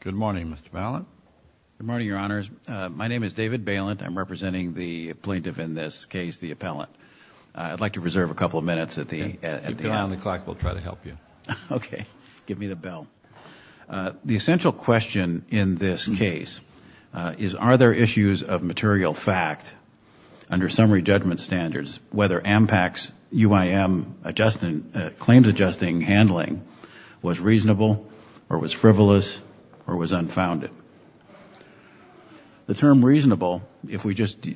Good morning, Mr. Bailent. Good morning, Your Honors. My name is David Bailent. I'm representing the plaintiff in this case, the appellant. I'd like to reserve a couple of minutes at the end. The bell on the clock will try to help you. Okay, give me the bell. The essential question in this case is are there issues of material fact under summary judgment standards, whether AMPAC's UIM claims adjusting handling was reasonable or was frivolous or was unfounded. The term reasonable, if we just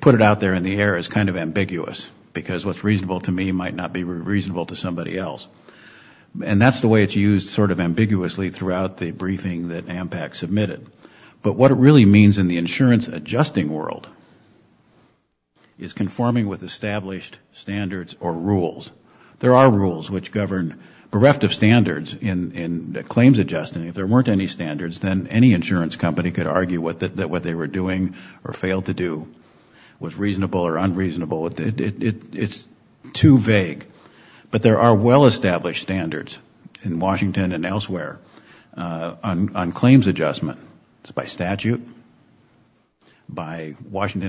put it out there in the air, is kind of ambiguous because what's reasonable to me might not be reasonable to somebody else. And that's the way it's used sort of ambiguously throughout the briefing that AMPAC submitted. But what it really means in the insurance adjusting world is conforming with established standards or rules. There are rules which govern bereft of standards in claims adjusting. If there weren't any standards, then any insurance company could argue that what they were doing or failed to do was reasonable or unreasonable. It's too vague. But there are well-established standards in Washington and elsewhere on claims adjustment. It's by statute, by regulations,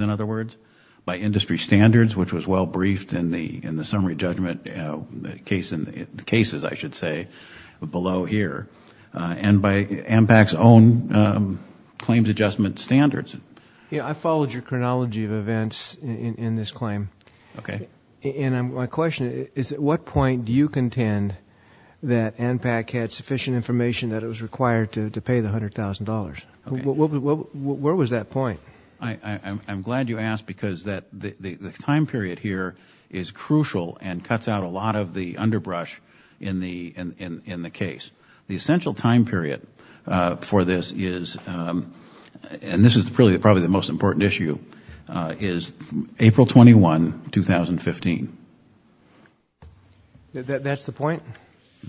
in other words, by industry standards, which was well briefed in the summary judgment cases, I should say, below here, and by AMPAC's own claims adjustment standards. Yeah, I followed your chronology of events in this claim. Okay. And my question is, at what point do you contend that AMPAC had sufficient information that it was required to pay the $100,000? Where was that point? I'm glad you asked because the time period here is crucial and cuts out a lot of the underbrush in the case. The essential time period for this is, and this is probably the most important issue, is April 21, 2015. That's the point?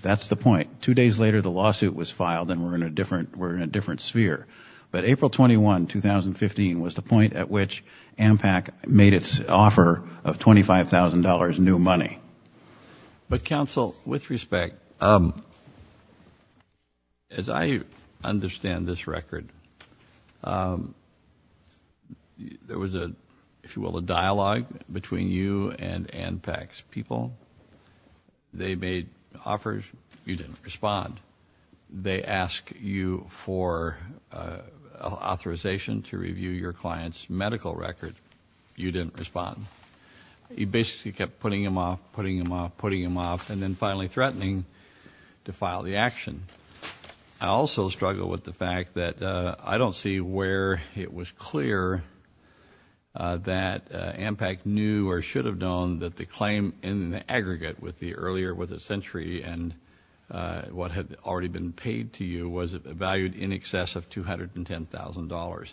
That's the point. Two days later, the lawsuit was filed and we're in a different sphere. But April 21, 2015 was the point at which AMPAC made its offer of $25,000 new money. But counsel, with respect, as I understand this record, there was, if you will, a dialogue between you and AMPAC's people. They made offers. You didn't respond. They ask you for authorization to review your client's medical record. You didn't respond. You basically kept putting them off, putting them off, putting them off, and then finally threatening to file the action. I also struggle with the fact that I don't see where it was clear that AMPAC knew or should have known that the claim in the aggregate with the earlier with a century and what had already been paid to you was valued in excess of $210,000.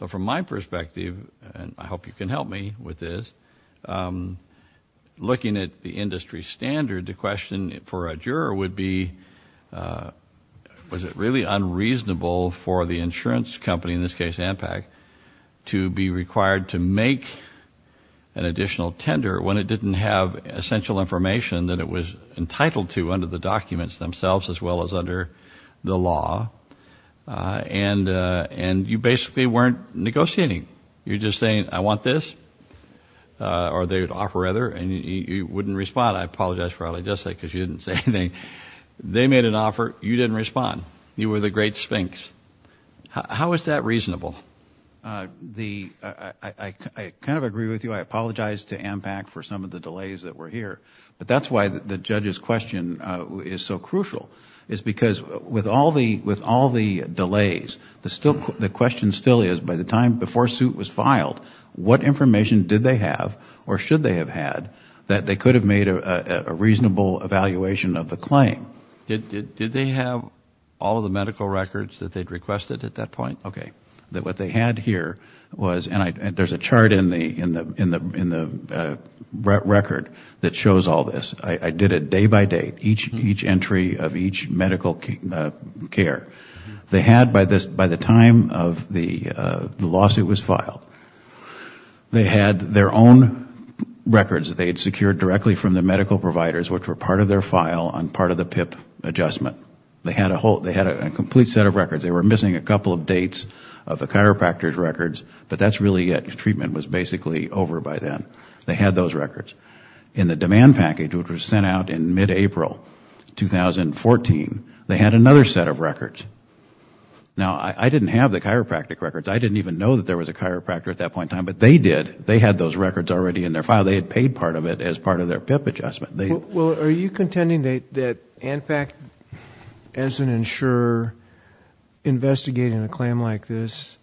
So from my perspective, and I hope you can help me with this, looking at the industry standard, the question for a in this case AMPAC, to be required to make an additional tender when it didn't have essential information that it was entitled to under the documents themselves as well as under the law. And you basically weren't negotiating. You're just saying, I want this, or they would offer other and you wouldn't respond. I apologize for what I just said because you didn't say anything. They made an offer. You didn't respond. You were the great sphinx. How is that reasonable? I kind of agree with you. I apologize to AMPAC for some of the delays that were here. But that's why the judge's question is so crucial, is because with all the delays, the question still is by the time before suit was filed, what information did they have or should they have had that they could have made a reasonable evaluation of the claim? Did they have all of the medical records that they had requested at that point? Okay. What they had here was, and there's a chart in the record that shows all this. I did it day by day, each entry of each medical care. They had by the time of the lawsuit was filed, they had their own records that they had secured directly from the medical providers which were part of their file on part of the PIP adjustment. They had a complete set of records. They were missing a couple of dates of the chiropractor's records, but that's really it. Treatment was basically over by then. They had those records. In the demand package, which was sent out in mid-April 2014, they had another set of records. Now, I didn't have the chiropractic records. I didn't even know that there was a chiropractor at that point in time, but they did. They had those records already in their file. They had paid part of it as part of their PIP adjustment. Are you contending that ANPAC, as an insurer, investigating a claim like this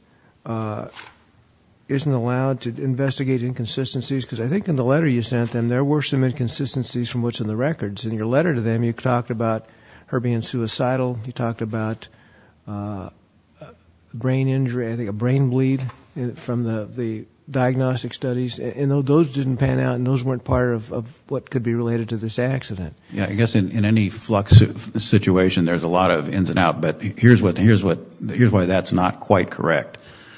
isn't allowed to investigate inconsistencies? I think in the letter you sent them, there were some inconsistencies from what's in the records. In your letter to them, you talked about her being suicidal. You talked about a brain injury, I think a brain bleed from the diagnostic studies. Those didn't pan out and those weren't part of what could be related to this accident. In any flux situation, there's a lot of ins and outs, but here's why that's not quite correct.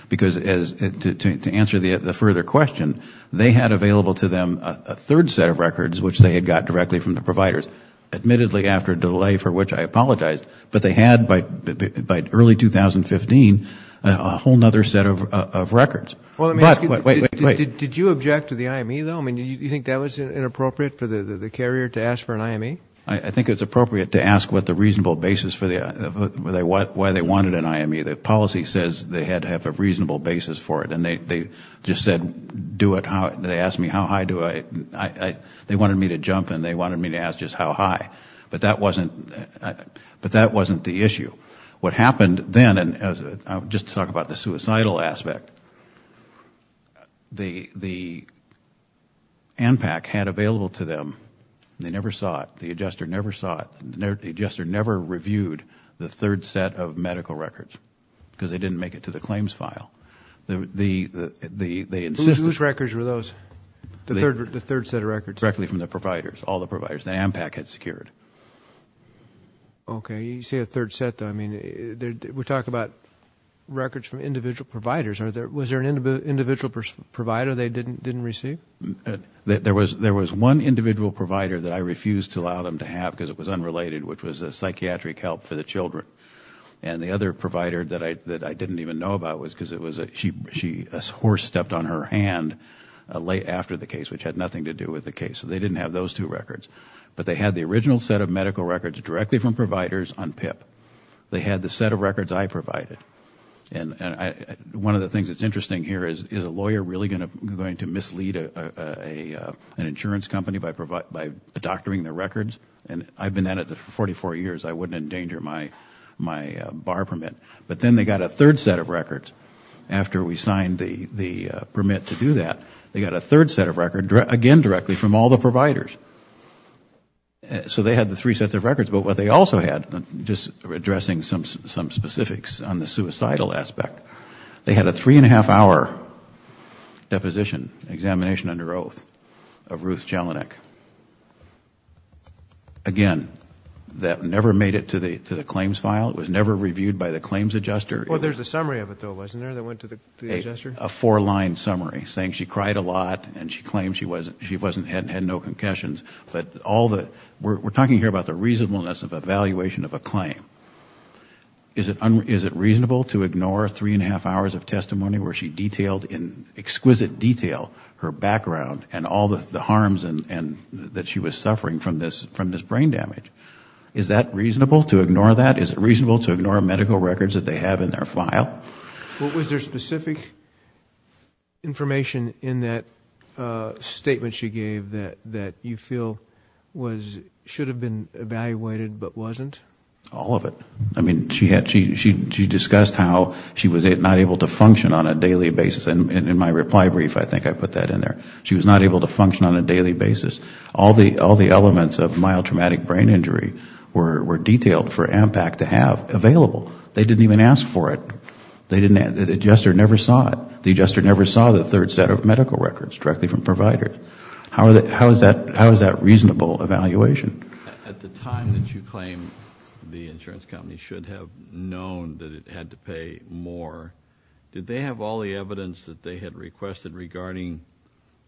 To answer the further question, they had available to them a third set of records, which they had got directly from the providers, admittedly after a delay for which I apologize, but they had by early 2015 a whole other set of records. Did you object to the IME, though? Do you think that was inappropriate for the carrier to ask for an IME? I think it's appropriate to ask what the reasonable basis for why they wanted an IME. The policy says they had to have a reasonable basis for it, and they just said do it. They asked me how high. They wanted me to jump and they wanted me to ask just how high, but that wasn't the issue. What happened then, just to talk about the suicidal aspect, the ANPAC had available to them. They never saw it. The adjuster never saw it. The adjuster never reviewed the third set of medical records because they didn't make it to the claims file. Whose records were those, the third set of records? Directly from the providers, all the providers. The ANPAC had secured. Okay. You say a third set, though. I mean, we're talking about records from individual providers. Was there an individual provider they didn't receive? There was one individual provider that I refused to allow them to have because it was unrelated, which was a psychiatric help for the children. And the other provider that I didn't even know about was because a horse stepped on her hand late after the case, which had nothing to do with the case. So they didn't have those two records. But they had the original set of medical records directly from providers on PIP. They had the set of records I provided. One of the things that's interesting here is, is a lawyer really going to mislead an insurance company by doctoring their records? And I've been at it for 44 years. I wouldn't endanger my bar permit. But then they got a third set of records. After we signed the permit to do that, they got a third set of records, again, directly from all the providers. So they had the three sets of records. But what they also had, just addressing some specifics on the suicidal aspect, they had a three and a half hour deposition, examination under Ruth Jelinek. Again, that never made it to the claims file. It was never reviewed by the claims adjuster. Well, there's a summary of it, though, wasn't there, that went to the adjuster? A four-line summary saying she cried a lot and she claimed she hadn't had no concussions. But we're talking here about the reasonableness of evaluation of a claim. Is it reasonable to ignore three and a half hours of testimony where she detailed in exquisite detail her harms and that she was suffering from this brain damage? Is that reasonable, to ignore that? Is it reasonable to ignore medical records that they have in their file? Was there specific information in that statement she gave that you feel should have been evaluated but wasn't? All of it. I mean, she discussed how she was not able to function on a daily basis. In my reply brief, I think I put that in there. She was not able to function on a daily basis. All the elements of mild traumatic brain injury were detailed for AMPAC to have available. They didn't even ask for it. The adjuster never saw it. The adjuster never saw the third set of medical records directly from providers. How is that reasonable evaluation? At the time that you claim the insurance company should have known that it had to pay more, did they have all the evidence that they had requested regarding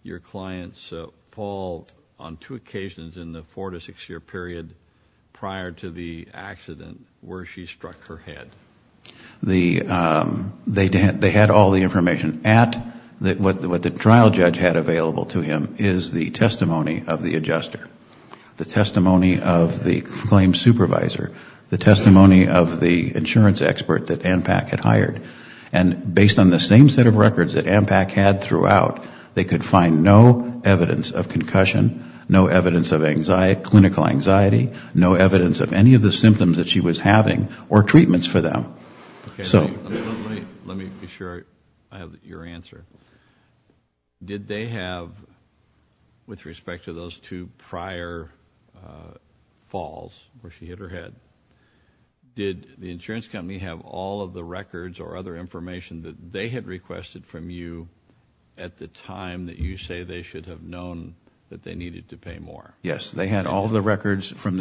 your client's fall on two occasions in the four to six year period prior to the accident where she struck her head? They had all the information. What the trial judge had available to him is the testimony of the adjuster, the testimony of the claim supervisor, the testimony of the insurance expert that AMPAC had hired. Based on the same set of records that AMPAC had throughout, they could find no evidence of concussion, no evidence of clinical anxiety, no evidence of any of the symptoms that she was having or treatments for them. Let me be sure I have your answer. Did they have, with respect to those two prior falls where she hit her head, did the insurance company have all of the records or other information that they had requested from you at the time that you say they should have known that they needed to pay more? Yes. They had all of the records. When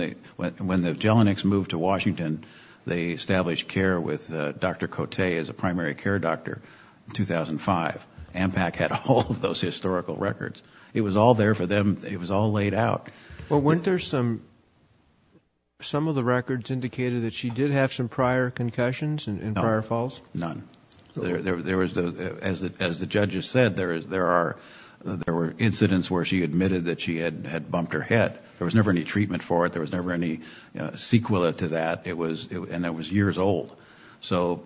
the Jelenics moved to Washington, they established care with Dr. Cote as a primary care doctor in 2005. AMPAC had all of those historical records. It was all there for them. It was all laid out. Weren't there some of the records that indicated that she did have some prior concussions in prior falls? None. As the judge has said, there were incidents where she admitted that she had bumped her head. There was never any treatment for it. There was never any sequela to that, and it was years old. That's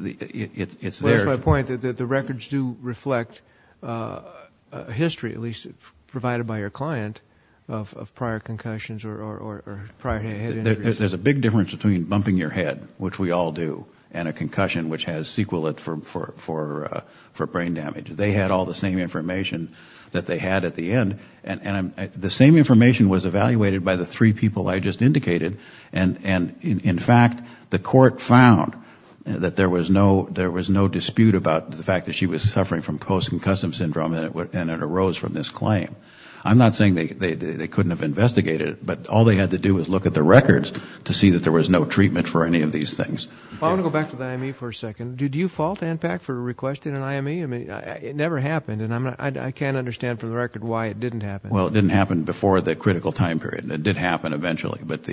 my point. The records do reflect history, at least provided by your client. There's a big difference between bumping your head, which we all do, and a concussion which has sequela for brain damage. They had all the same information that they had at the end. The same information was evaluated by the three people I just indicated. In fact, the court found that there was no dispute about the fact that she was suffering from post-concussive syndrome, and it arose from this claim. I'm not saying they couldn't have investigated it, but all they had to do was look at the records to see that there was no treatment for any of these things. I want to go back to the IME for a second. Did you fault AMPAC for requesting an IME? It never happened, and I can't understand for the record why it didn't happen. It didn't happen before the critical time period. It did happen eventually, but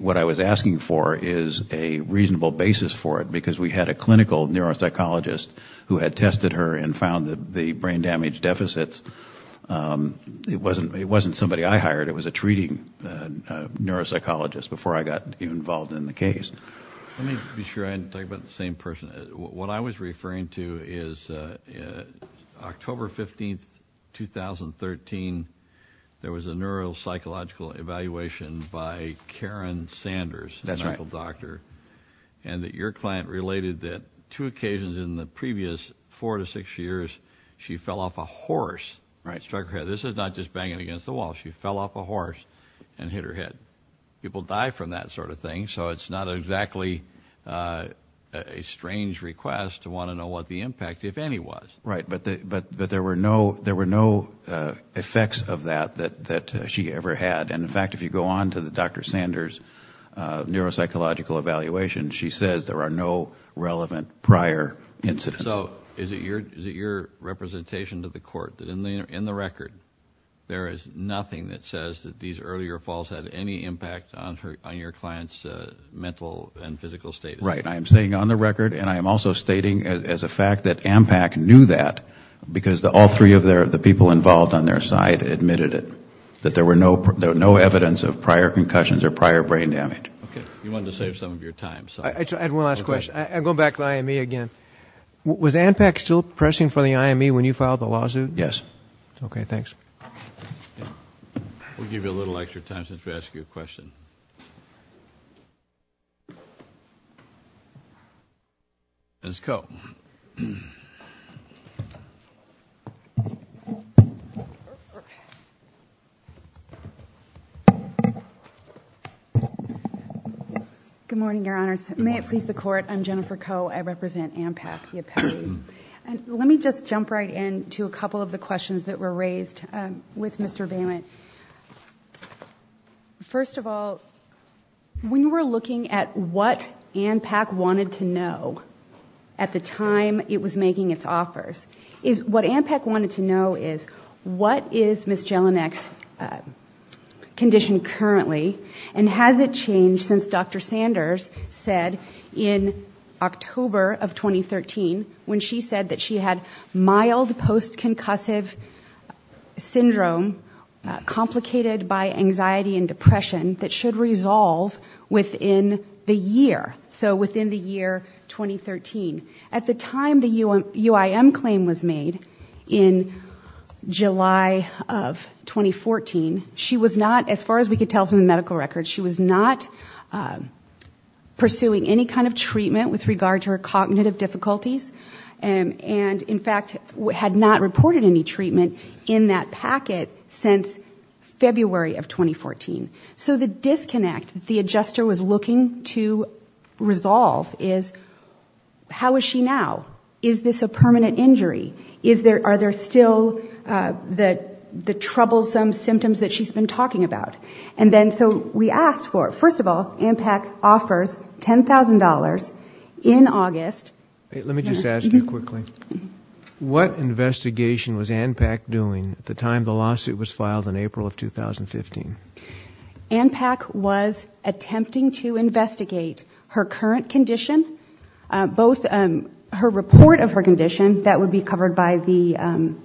what I was asking for is a reasonable basis for it, because we had a clinical neuropsychologist who had tested her and found the brain damage deficits. It wasn't somebody I hired. It was a treating neuropsychologist before I got involved in the case. Let me be sure I didn't talk about the same person. What I was referring to is October 15, 2013, there was a neuropsychological evaluation by Karen Sanders, a medical doctor, and your client related that two occasions in the previous four to six years, she fell off a horse, struck her head. This is not just banging against the wall. She fell off a horse and hit her head. People die from that sort of thing, so it's not exactly a strange request to want to know what the impact, if any, was. Right, but there were no effects of that that she ever had, and in fact, if you go on to the Dr. Sanders neuropsychological evaluation, she says there are no relevant prior incidents. So is it your representation to the court that in the record, there is nothing that says that these earlier falls had any impact on your client's mental and physical status? Right. I am saying on the record, and I am also stating as a fact that ANPAC knew that because all three of the people involved on their side admitted it, that there were no evidence of prior concussions or prior brain damage. Okay. You wanted to save some of your time, so... I had one last question. I'm going back to the IME again. Was ANPAC still pressing for the IME when you filed the lawsuit? Yes. Okay, thanks. We'll give you a little extra time since we asked you a question. Ms. Coe. Good morning, Your Honors. May it please the Court, I'm Jennifer Coe. I represent ANPAC, the appellee. Let me just jump right in to a couple of the questions that were raised with Mr. Bailent. First of all, when we're looking at what ANPAC wanted to know at the time it was making its offers, what ANPAC wanted to know is what is Ms. Jelinek's condition currently, and has it changed since Dr. Sanders said in October of 2013 when she said that she had mild post-concussive syndrome complicated by anxiety and depression that should resolve within the year, so within the year 2013. At the time the UIM claim was made in July of 2014, she was not, as far as we could tell from the medical records, she was not pursuing any kind of treatment, and in fact had not reported any treatment in that packet since February of 2014. So the disconnect the adjuster was looking to resolve is how is she now? Is this a permanent injury? Are there still the troublesome symptoms that she's been talking about? And then so we asked for it. First of all, ANPAC offers $10,000 in August. Let me just ask you quickly, what investigation was ANPAC doing at the time the lawsuit was filed in April of 2015? ANPAC was attempting to investigate her current condition, both her report of her condition that would be covered by the EOU,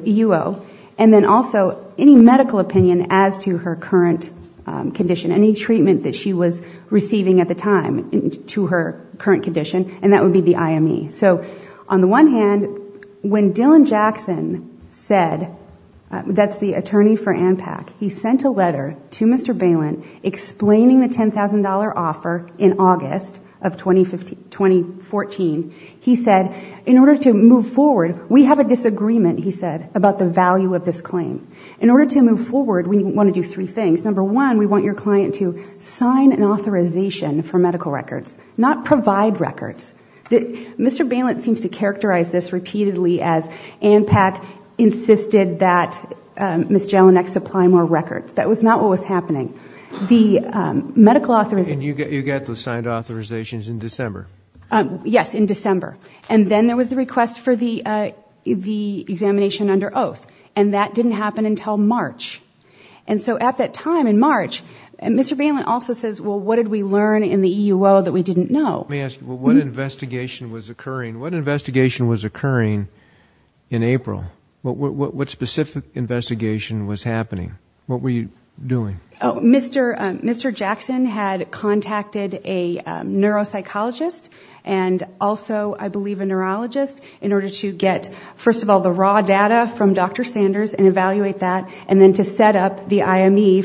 EUO, and then also any medical opinion as to her current condition, any treatment that she was receiving at the time to her current condition, and that would be the IME. So on the one hand, when Dylan Jackson said, that's the attorney for ANPAC, he sent a letter to Mr. Balin explaining the $10,000 offer in August of 2014. He said, in order to move forward, we have a disagreement, he said, about the value of this claim. In order to move forward, we want to do three things. Number one, we want your client to sign an authorization for medical records, not provide records. Mr. Balin seems to characterize this repeatedly as ANPAC insisted that Ms. Jelinek supply more records. That was not what was happening. And you got those signed authorizations in December? Yes, in December. And then there was the request for the examination under oath, and that didn't happen until March. And Mr. Balin also says, well, what did we learn in the EUO that we didn't know? Let me ask you, what investigation was occurring in April? What specific investigation was happening? What were you doing? Mr. Jackson had contacted a neuropsychologist and also, I believe, a neurologist in order to get, first of all, the raw data from Dr. Sanders and evaluate that, and then to set up the IME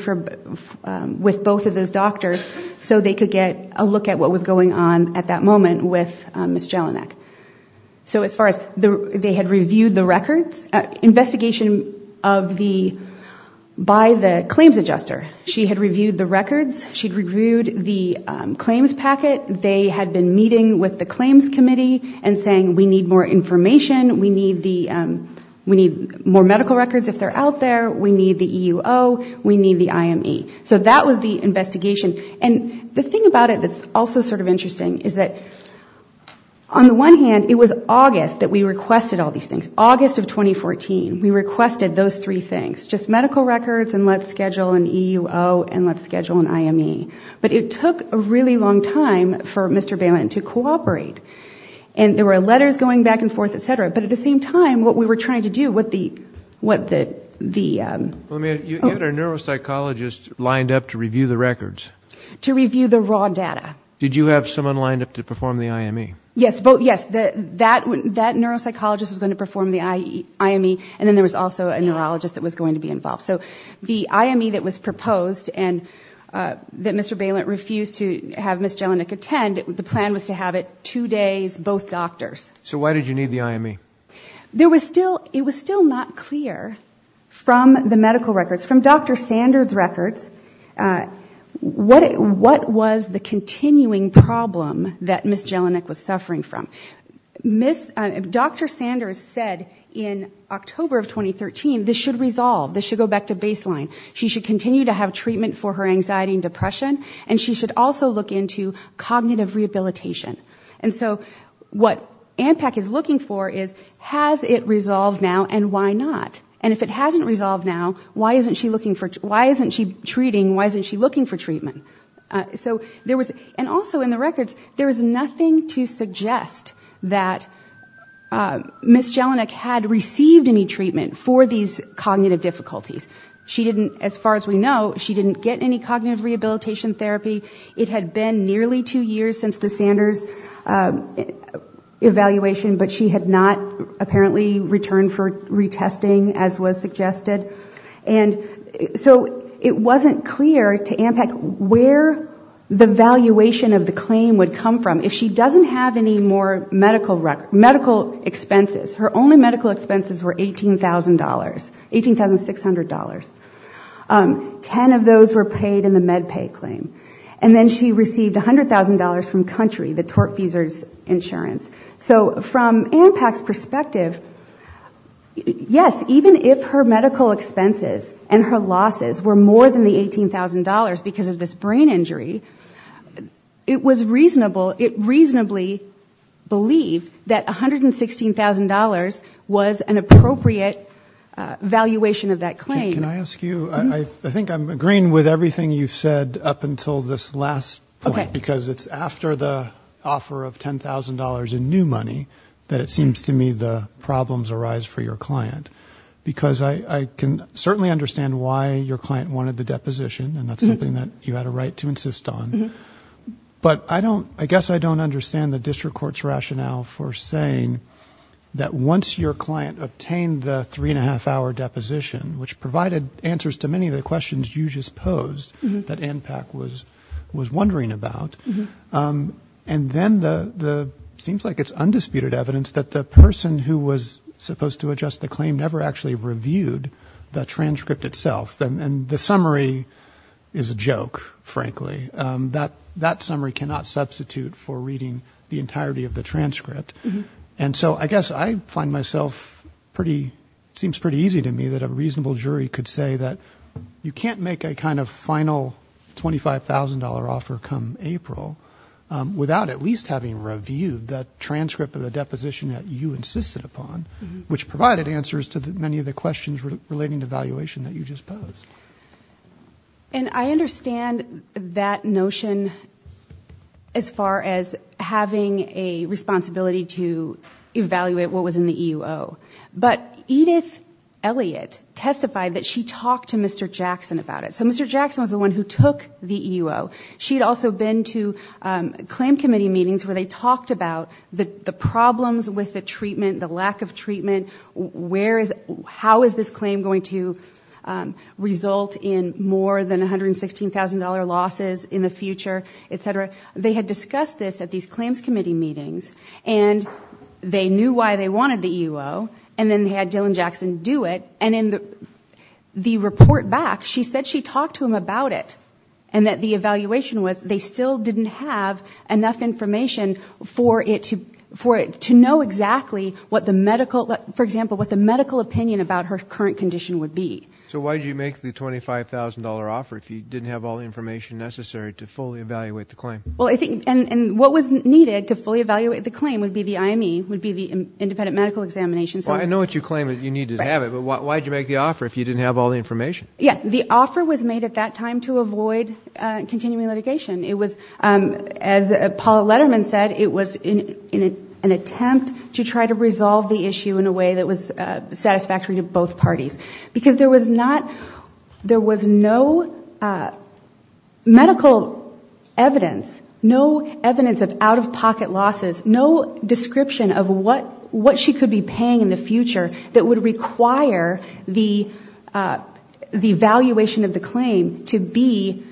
with both of those doctors so they could get a look at what was going on at that moment with Ms. Jelinek. Investigation by the claims adjuster, she had reviewed the records, she had reviewed the claims packet, they had been meeting with the claims committee and saying, we need more information, we need more information, we need more medical records if they're out there, we need the EUO, we need the IME. So that was the investigation, and the thing about it that's also sort of interesting is that on the one hand, it was August that we requested all these things. August of 2014, we requested those three things, just medical records and let's schedule an EUO and let's schedule an IME, but it took a really long time for Mr. Balin to cooperate. And there were letters going back and forth, et cetera, but at the same time, what we were trying to do, what the... You had a neuropsychologist lined up to review the records? To review the raw data. Did you have someone lined up to perform the IME? Yes, that neuropsychologist was going to perform the IME, and then there was also a neurologist that was going to be involved. So the IME that was proposed and that Mr. Balin refused to have Ms. Jelinek attend, the plan was to have it two days, both doctors. So why did you need the IME? It was still not clear from the medical records, from Dr. Sanders' records, what was the continuing problem that Ms. Jelinek was suffering from. Dr. Sanders said in October of 2013, this should resolve, this should go back to baseline. She should continue to have treatment for her anxiety and depression, and she should also look into cognitive rehabilitation. And so what ANPAC is looking for is, has it resolved now and why not? And if it hasn't resolved now, why isn't she treating, why isn't she looking for treatment? So there was, and also in the records, there was nothing to suggest that Ms. Jelinek had received any treatment for these cognitive difficulties. She didn't, as far as we know, she didn't get any cognitive rehabilitation therapy. It had been nearly two years since the Sanders evaluation, but she had not apparently returned for retesting, as was suggested. And so it wasn't clear to ANPAC where the valuation of the claim would come from. If she doesn't have any more medical expenses, her only medical expenses were $18,000, $18,600. Ten of those were paid in the MedPay claim. And then she received $100,000 from Country, the tortfeasors insurance. So from ANPAC's perspective, yes, even if her medical expenses and her losses were more than the $18,000 because of this brain injury, it was reasonable, it reasonably believed that $116,000 was an appropriate valuation of that claim. Can I ask you, I think I'm agreeing with everything you said up until this last point. Because it's after the offer of $10,000 in new money that it seems to me the problems arise for your client. Because I can certainly understand why your client wanted the deposition, and that's something that you had a right to insist on. But I don't, I guess I don't understand the district court's rationale for saying that once your client obtained the three and a half hour deposition, which provided answers to many of the questions you just posed that ANPAC was wondering about. And then the, seems like it's undisputed evidence that the person who was supposed to adjust the claim never actually reviewed the transcript itself. And the summary is a joke, frankly. That summary cannot substitute for reading the entirety of the transcript. And so I guess I find myself pretty, seems pretty easy to me that a reasonable jury could say that you can't make a kind of final $25,000 offer come April. Without at least having reviewed that transcript of the deposition that you insisted upon. Which provided answers to many of the questions relating to valuation that you just posed. And I understand that notion as far as having a responsibility to evaluate what was in the EUO. But Edith Elliott testified that she talked to Mr. Jackson about it. So Mr. Jackson was the one who took the EUO. She had also been to claim committee meetings where they talked about the problems with the treatment, the lack of treatment. How is this claim going to result in more than $116,000 losses in the future, et cetera. They had discussed this at these claims committee meetings. And they knew why they wanted the EUO. And then they had Dylan Jackson do it. And in the report back, she said she talked to him about it. And that the evaluation was they still didn't have enough information for it to know exactly what the medical, for example, what the medical opinion about her current condition would be. So why did you make the $25,000 offer if you didn't have all the information necessary to fully evaluate the claim? Well, I think, and what was needed to fully evaluate the claim would be the IME, would be the independent medical examination. Well, I know what you claim that you need to have it, but why did you make the offer if you didn't have all the information? Yeah, the offer was made at that time to avoid continuing litigation. It was, as Paula Letterman said, it was in an attempt to try to resolve the issue in a way that was satisfactory to both parties. Because there was not, there was no medical evidence, no evidence of out-of-pocket losses, no description of what she could be paying in the future. That would require the evaluation of the claim to be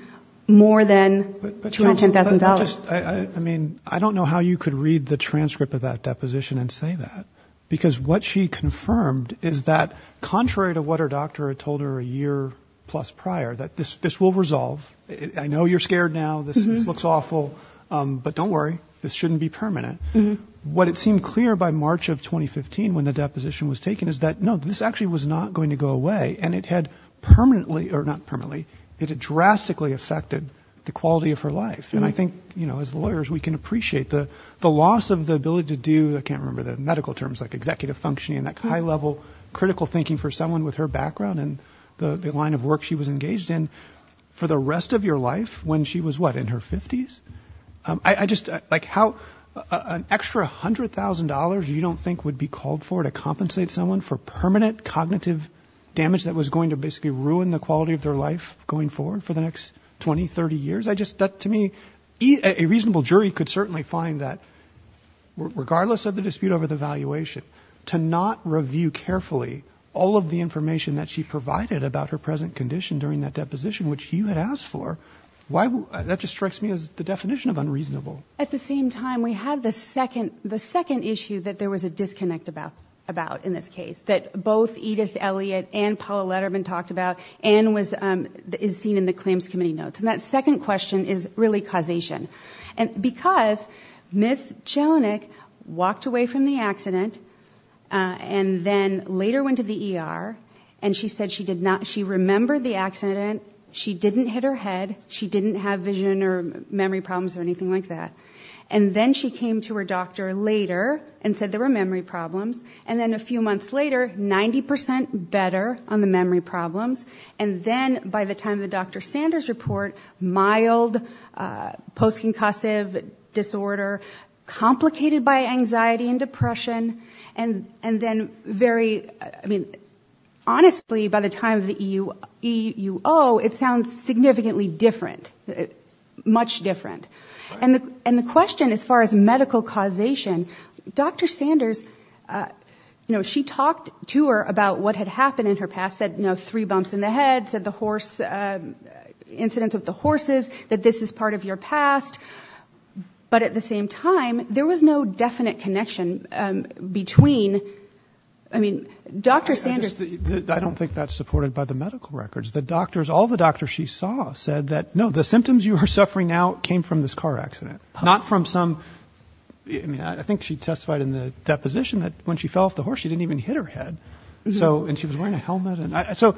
more than $210,000. But counsel, just, I mean, I don't know how you could read the transcript of that deposition and say that. Because what she confirmed is that contrary to what her doctor had told her a year plus prior, that this will resolve. I know you're scared now, this looks awful, but don't worry, this shouldn't be permanent. What it seemed clear by March of 2015 when the deposition was taken is that, no, this actually was not going to go away. And it had permanently, or not permanently, it had drastically affected the quality of her life. And I think, you know, as lawyers we can appreciate the loss of the ability to do, I can't remember the medical terms, like executive functioning, like high-level critical thinking for someone with her background and the line of work she was engaged in. For the rest of your life, when she was what, in her 50s? An extra $100,000 you don't think would be called for to compensate someone for permanent cognitive damage that was going to basically ruin the quality of their life going forward for the next 20, 30 years? I just, that to me, a reasonable jury could certainly find that, regardless of the dispute over the valuation, to not review carefully all of the information that she provided about her present condition during that deposition, which you had asked for, why, that just strikes me as the definition of unreasonable. At the same time, we had the second issue that there was a disconnect about in this case, that both Edith Elliott and Paula Letterman talked about, and is seen in the claims committee notes. And that second question is really causation. And because Ms. Chelinick walked away from the accident, and then later went to the ER, and she said she did not, she remembered the accident, she didn't hit her head, she didn't have vision or memory problems or anything like that. And then she came to her doctor later and said there were memory problems, and then a few months later, 90% better on the memory problems, and then by the time of the Dr. Sanders report, mild post-concussive disorder, complicated by anxiety and depression, and then very, I mean, honestly, by the time of the EUO, it sounds significantly different, much different. And the question as far as medical causation, Dr. Sanders, you know, she talked to her about what had happened in her past, said, you know, three bumps in the head, said the horse, incidents with the horses, that this is part of your past. But at the same time, there was no definite connection between, I mean, Dr. Sanders... And all the doctors she saw said that, no, the symptoms you are suffering now came from this car accident, not from some, I mean, I think she testified in the deposition that when she fell off the horse, she didn't even hit her head, and she was wearing a helmet, and so...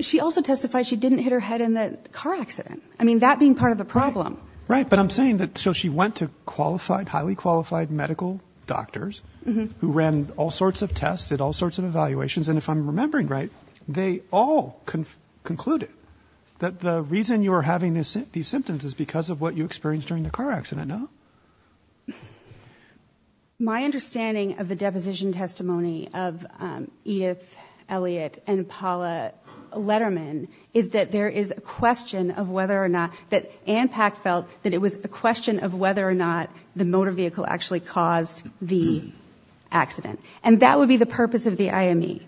She also testified she didn't hit her head in the car accident, I mean, that being part of the problem. Right, but I'm saying that, so she went to qualified, highly qualified medical doctors who ran all sorts of tests, did all sorts of evaluations, and if I'm remembering right, they all concluded that the reason you are having these symptoms is because of what you experienced during the car accident, no? My understanding of the deposition testimony of Edith Elliott and Paula Letterman is that there is a question of whether or not, that ANPAC felt that it was a question of whether or not the motor vehicle actually caused the accident, and that would be the purpose of the IME.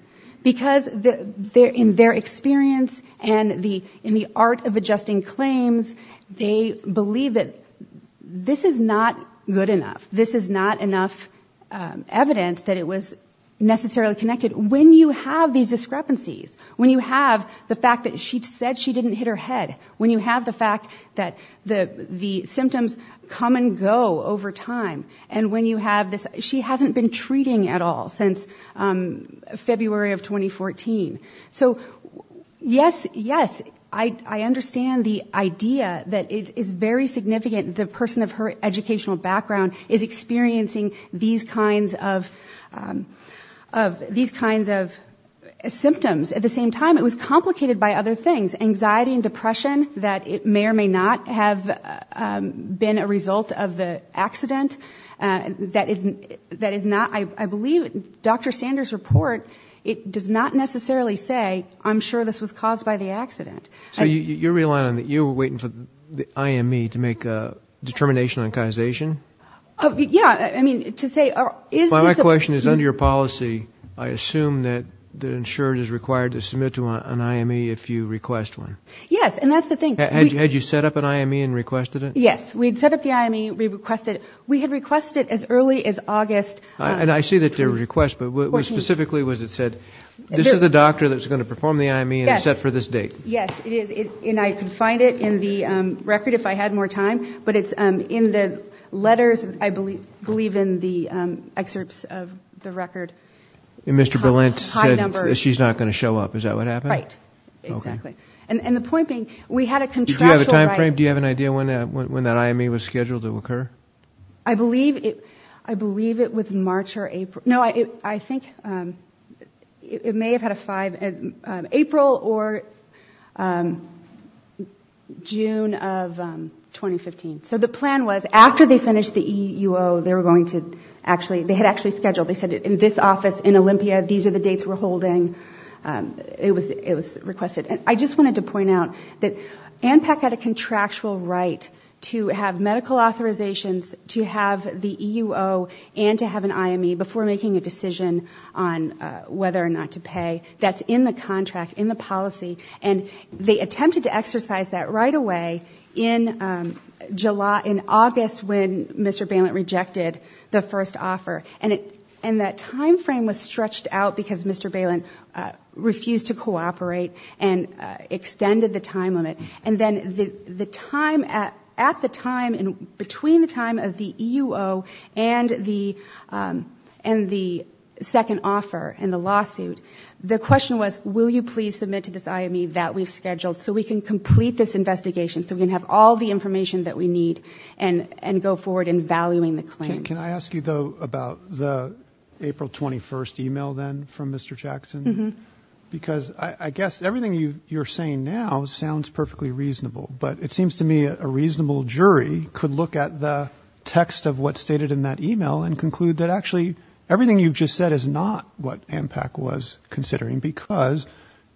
Because in their experience and in the art of adjusting claims, they believe that this is not good enough, this is not enough evidence that it was necessarily connected. When you have these discrepancies, when you have the fact that she said she didn't hit her head, when you have the fact that the symptoms come and go over time, and when you have this, she hasn't been treating at all since February of 2014. So, yes, yes, I understand the idea that it is very significant the person of her educational background is experiencing these kinds of symptoms. At the same time, it was complicated by other things, anxiety and depression, that it may or may not have been a result of the accident. I believe Dr. Sanders' report, it does not necessarily say, I'm sure this was caused by the accident. So you're relying on, you're waiting for the IME to make a determination on causation? Yeah, I mean, to say, is this a... Is it required to submit to an IME if you request one? Yes, and that's the thing... Had you set up an IME and requested it? Yes, we had set up the IME, we requested it, we had requested it as early as August... And I see that there was a request, but what specifically was it said, this is the doctor that's going to perform the IME and it's set for this date? Yes, it is, and I can find it in the record if I had more time, but it's in the letters, I believe in the excerpts of the record. And Mr. Berlant said that she's not going to show up, is that what happened? Right, exactly. And the point being, we had a contractual... It may have had a five... April or... June of 2015. So the plan was, after they finished the EUO, they were going to actually, they had actually scheduled, they said, in this office, in Olympia, these are the dates we're holding, it was requested. And I just wanted to point out that ANPAC had a contractual right to have medical authorizations, to have the EUO and to have an IME before making a decision on whether or not to pay. That's in the contract, in the policy, and they attempted to exercise that right away in July, in August, when Mr. Berlant rejected the first offer. And that time frame was stretched out because Mr. Berlant refused to cooperate and extended the time limit. And then at the time, between the time of the EUO and the second offer in the lawsuit, the question was, will you please submit to this IME that we've scheduled so we can complete this investigation, so we can have all the information that we need and go forward in valuing the claim. Can I ask you, though, about the April 21 email then from Mr. Jackson? Because I guess everything you're saying now sounds perfectly reasonable, but it seems to me a reasonable jury could look at the text of what's stated in that email and conclude that actually everything you've just said is not what ANPAC was considering, because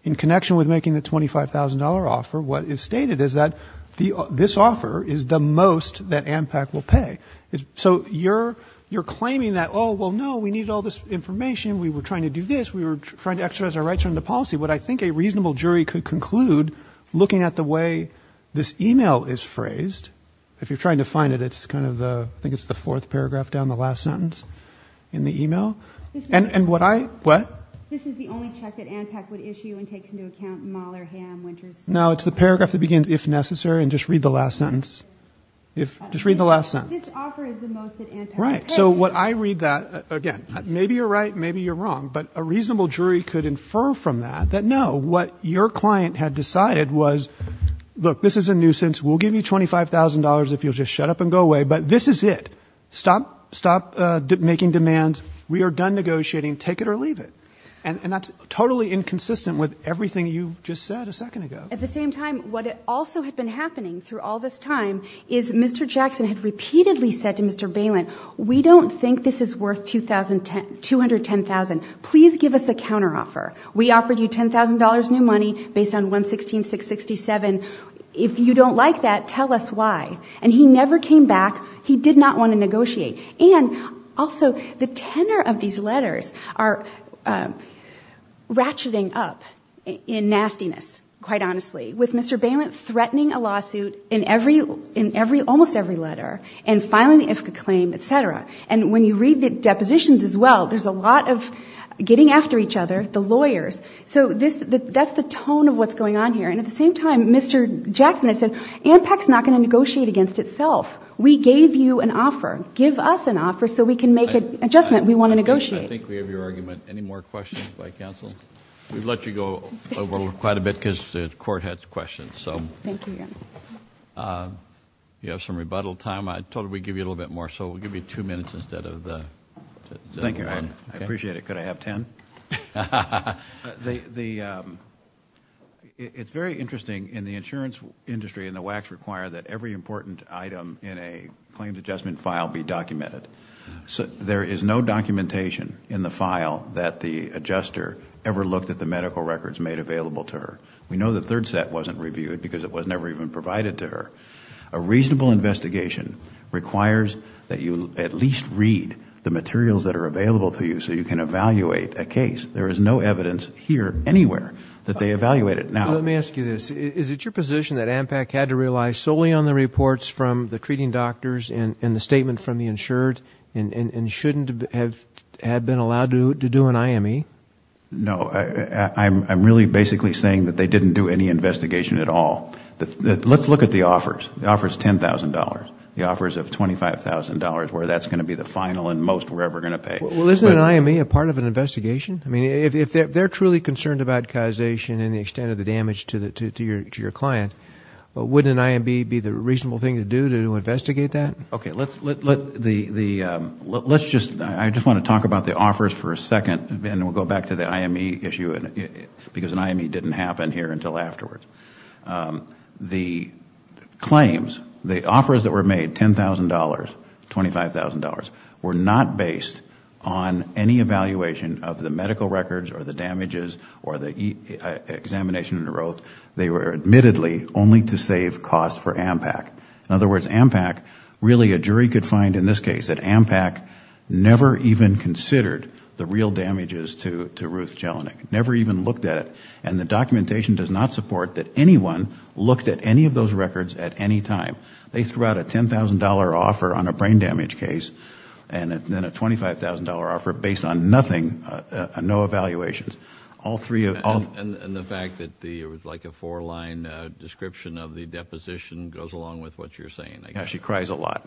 in connection with making the $25,000 offer, what is stated is that this offer is the most that ANPAC will pay. So you're claiming that, oh, well, no, we needed all this information, we were trying to do this, we were trying to exercise our right to run the policy. But I think a reasonable jury could conclude, looking at the way this email is phrased, if you're trying to find it, it's kind of the, I think it's the fourth paragraph down the last sentence in the email. And what I, what? No, it's the paragraph that begins, if necessary, and just read the last sentence. If, just read the last sentence. Right. So what I read that, again, maybe you're right, maybe you're wrong, but a reasonable jury could infer from that that, no, what your client had decided was, look, this is a nuisance, we'll give you $25,000 if you'll just shut up and go away, but this is it. Stop making demands. We are done negotiating. Take it or leave it. And that's totally inconsistent with everything you just said a second ago. At the same time, what also had been happening through all this time is Mr. Jackson had repeatedly said to Mr. Balin, we don't think this is worth $210,000. Please give us a counteroffer. We offered you $10,000 new money based on 116-667. If you don't like that, tell us why. And he never came back. He did not want to negotiate. And also, the tenor of these letters are ratcheting up in nastiness, quite honestly, with Mr. Balin threatening a lawsuit in almost every letter and filing the IFCA claim, et cetera. And when you read the depositions as well, there's a lot of getting after each other, the lawyers. So that's the tone of what's going on here. And at the same time, Mr. Jackson has said ANPAC's not going to negotiate against itself. We gave you an offer. Give us an offer so we can make an adjustment. We want to negotiate. I think we have your argument. Any more questions by counsel? We've let you go over quite a bit because the Court has questions. You have some rebuttal time. I told her we'd give you a little bit more, so we'll give you two minutes instead of the one. I appreciate it. Could I have ten? It's very interesting in the insurance industry and the WACs require that every important item in a claims adjustment file be documented. There is no documentation in the file that the adjuster ever looked at the medical records made available to her. We know the third set wasn't reviewed because it was never even provided to her. A reasonable investigation requires that you at least read the materials that are available to you so you can evaluate a case. There is no evidence here, anywhere, that they evaluate it. Let me ask you this. Is it your position that ANPAC had to rely solely on the reports from the treating doctors and the statement from the insured and shouldn't have been allowed to do an IME? No. I'm really basically saying that they didn't do any investigation at all. Let's look at the offers. The offer is $10,000. The offer is $25,000, where that's going to be the final and most we're ever going to pay. Isn't an IME a part of an investigation? If they're truly concerned about causation and the extent of the damage to your client, wouldn't an IME be the reasonable thing to do to investigate that? I just want to talk about the offers for a second and then we'll go back to the IME issue, because an IME didn't happen here until afterwards. The claims, the offers that were made, $10,000, $25,000, were not based on any evaluation of the medical records or the damages or the examination and growth. They were admittedly only to save costs for ANPAC. In other words, ANPAC, really a jury could find in this case that ANPAC never even considered the real damages to Ruth Jelinek, never even looked at it. And the documentation does not support that anyone looked at any of those records at any time. They threw out a $10,000 offer on a brain damage case and then a $25,000 offer based on nothing, no evaluations. And the fact that it was like a four line description of the deposition goes along with what you're saying. She cries a lot.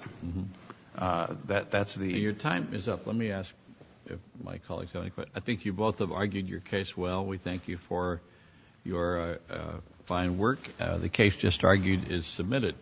Your time is up. Let me ask if my colleagues have any questions. I think you both have argued your case well. We thank you for your fine work. The case just argued is submitted.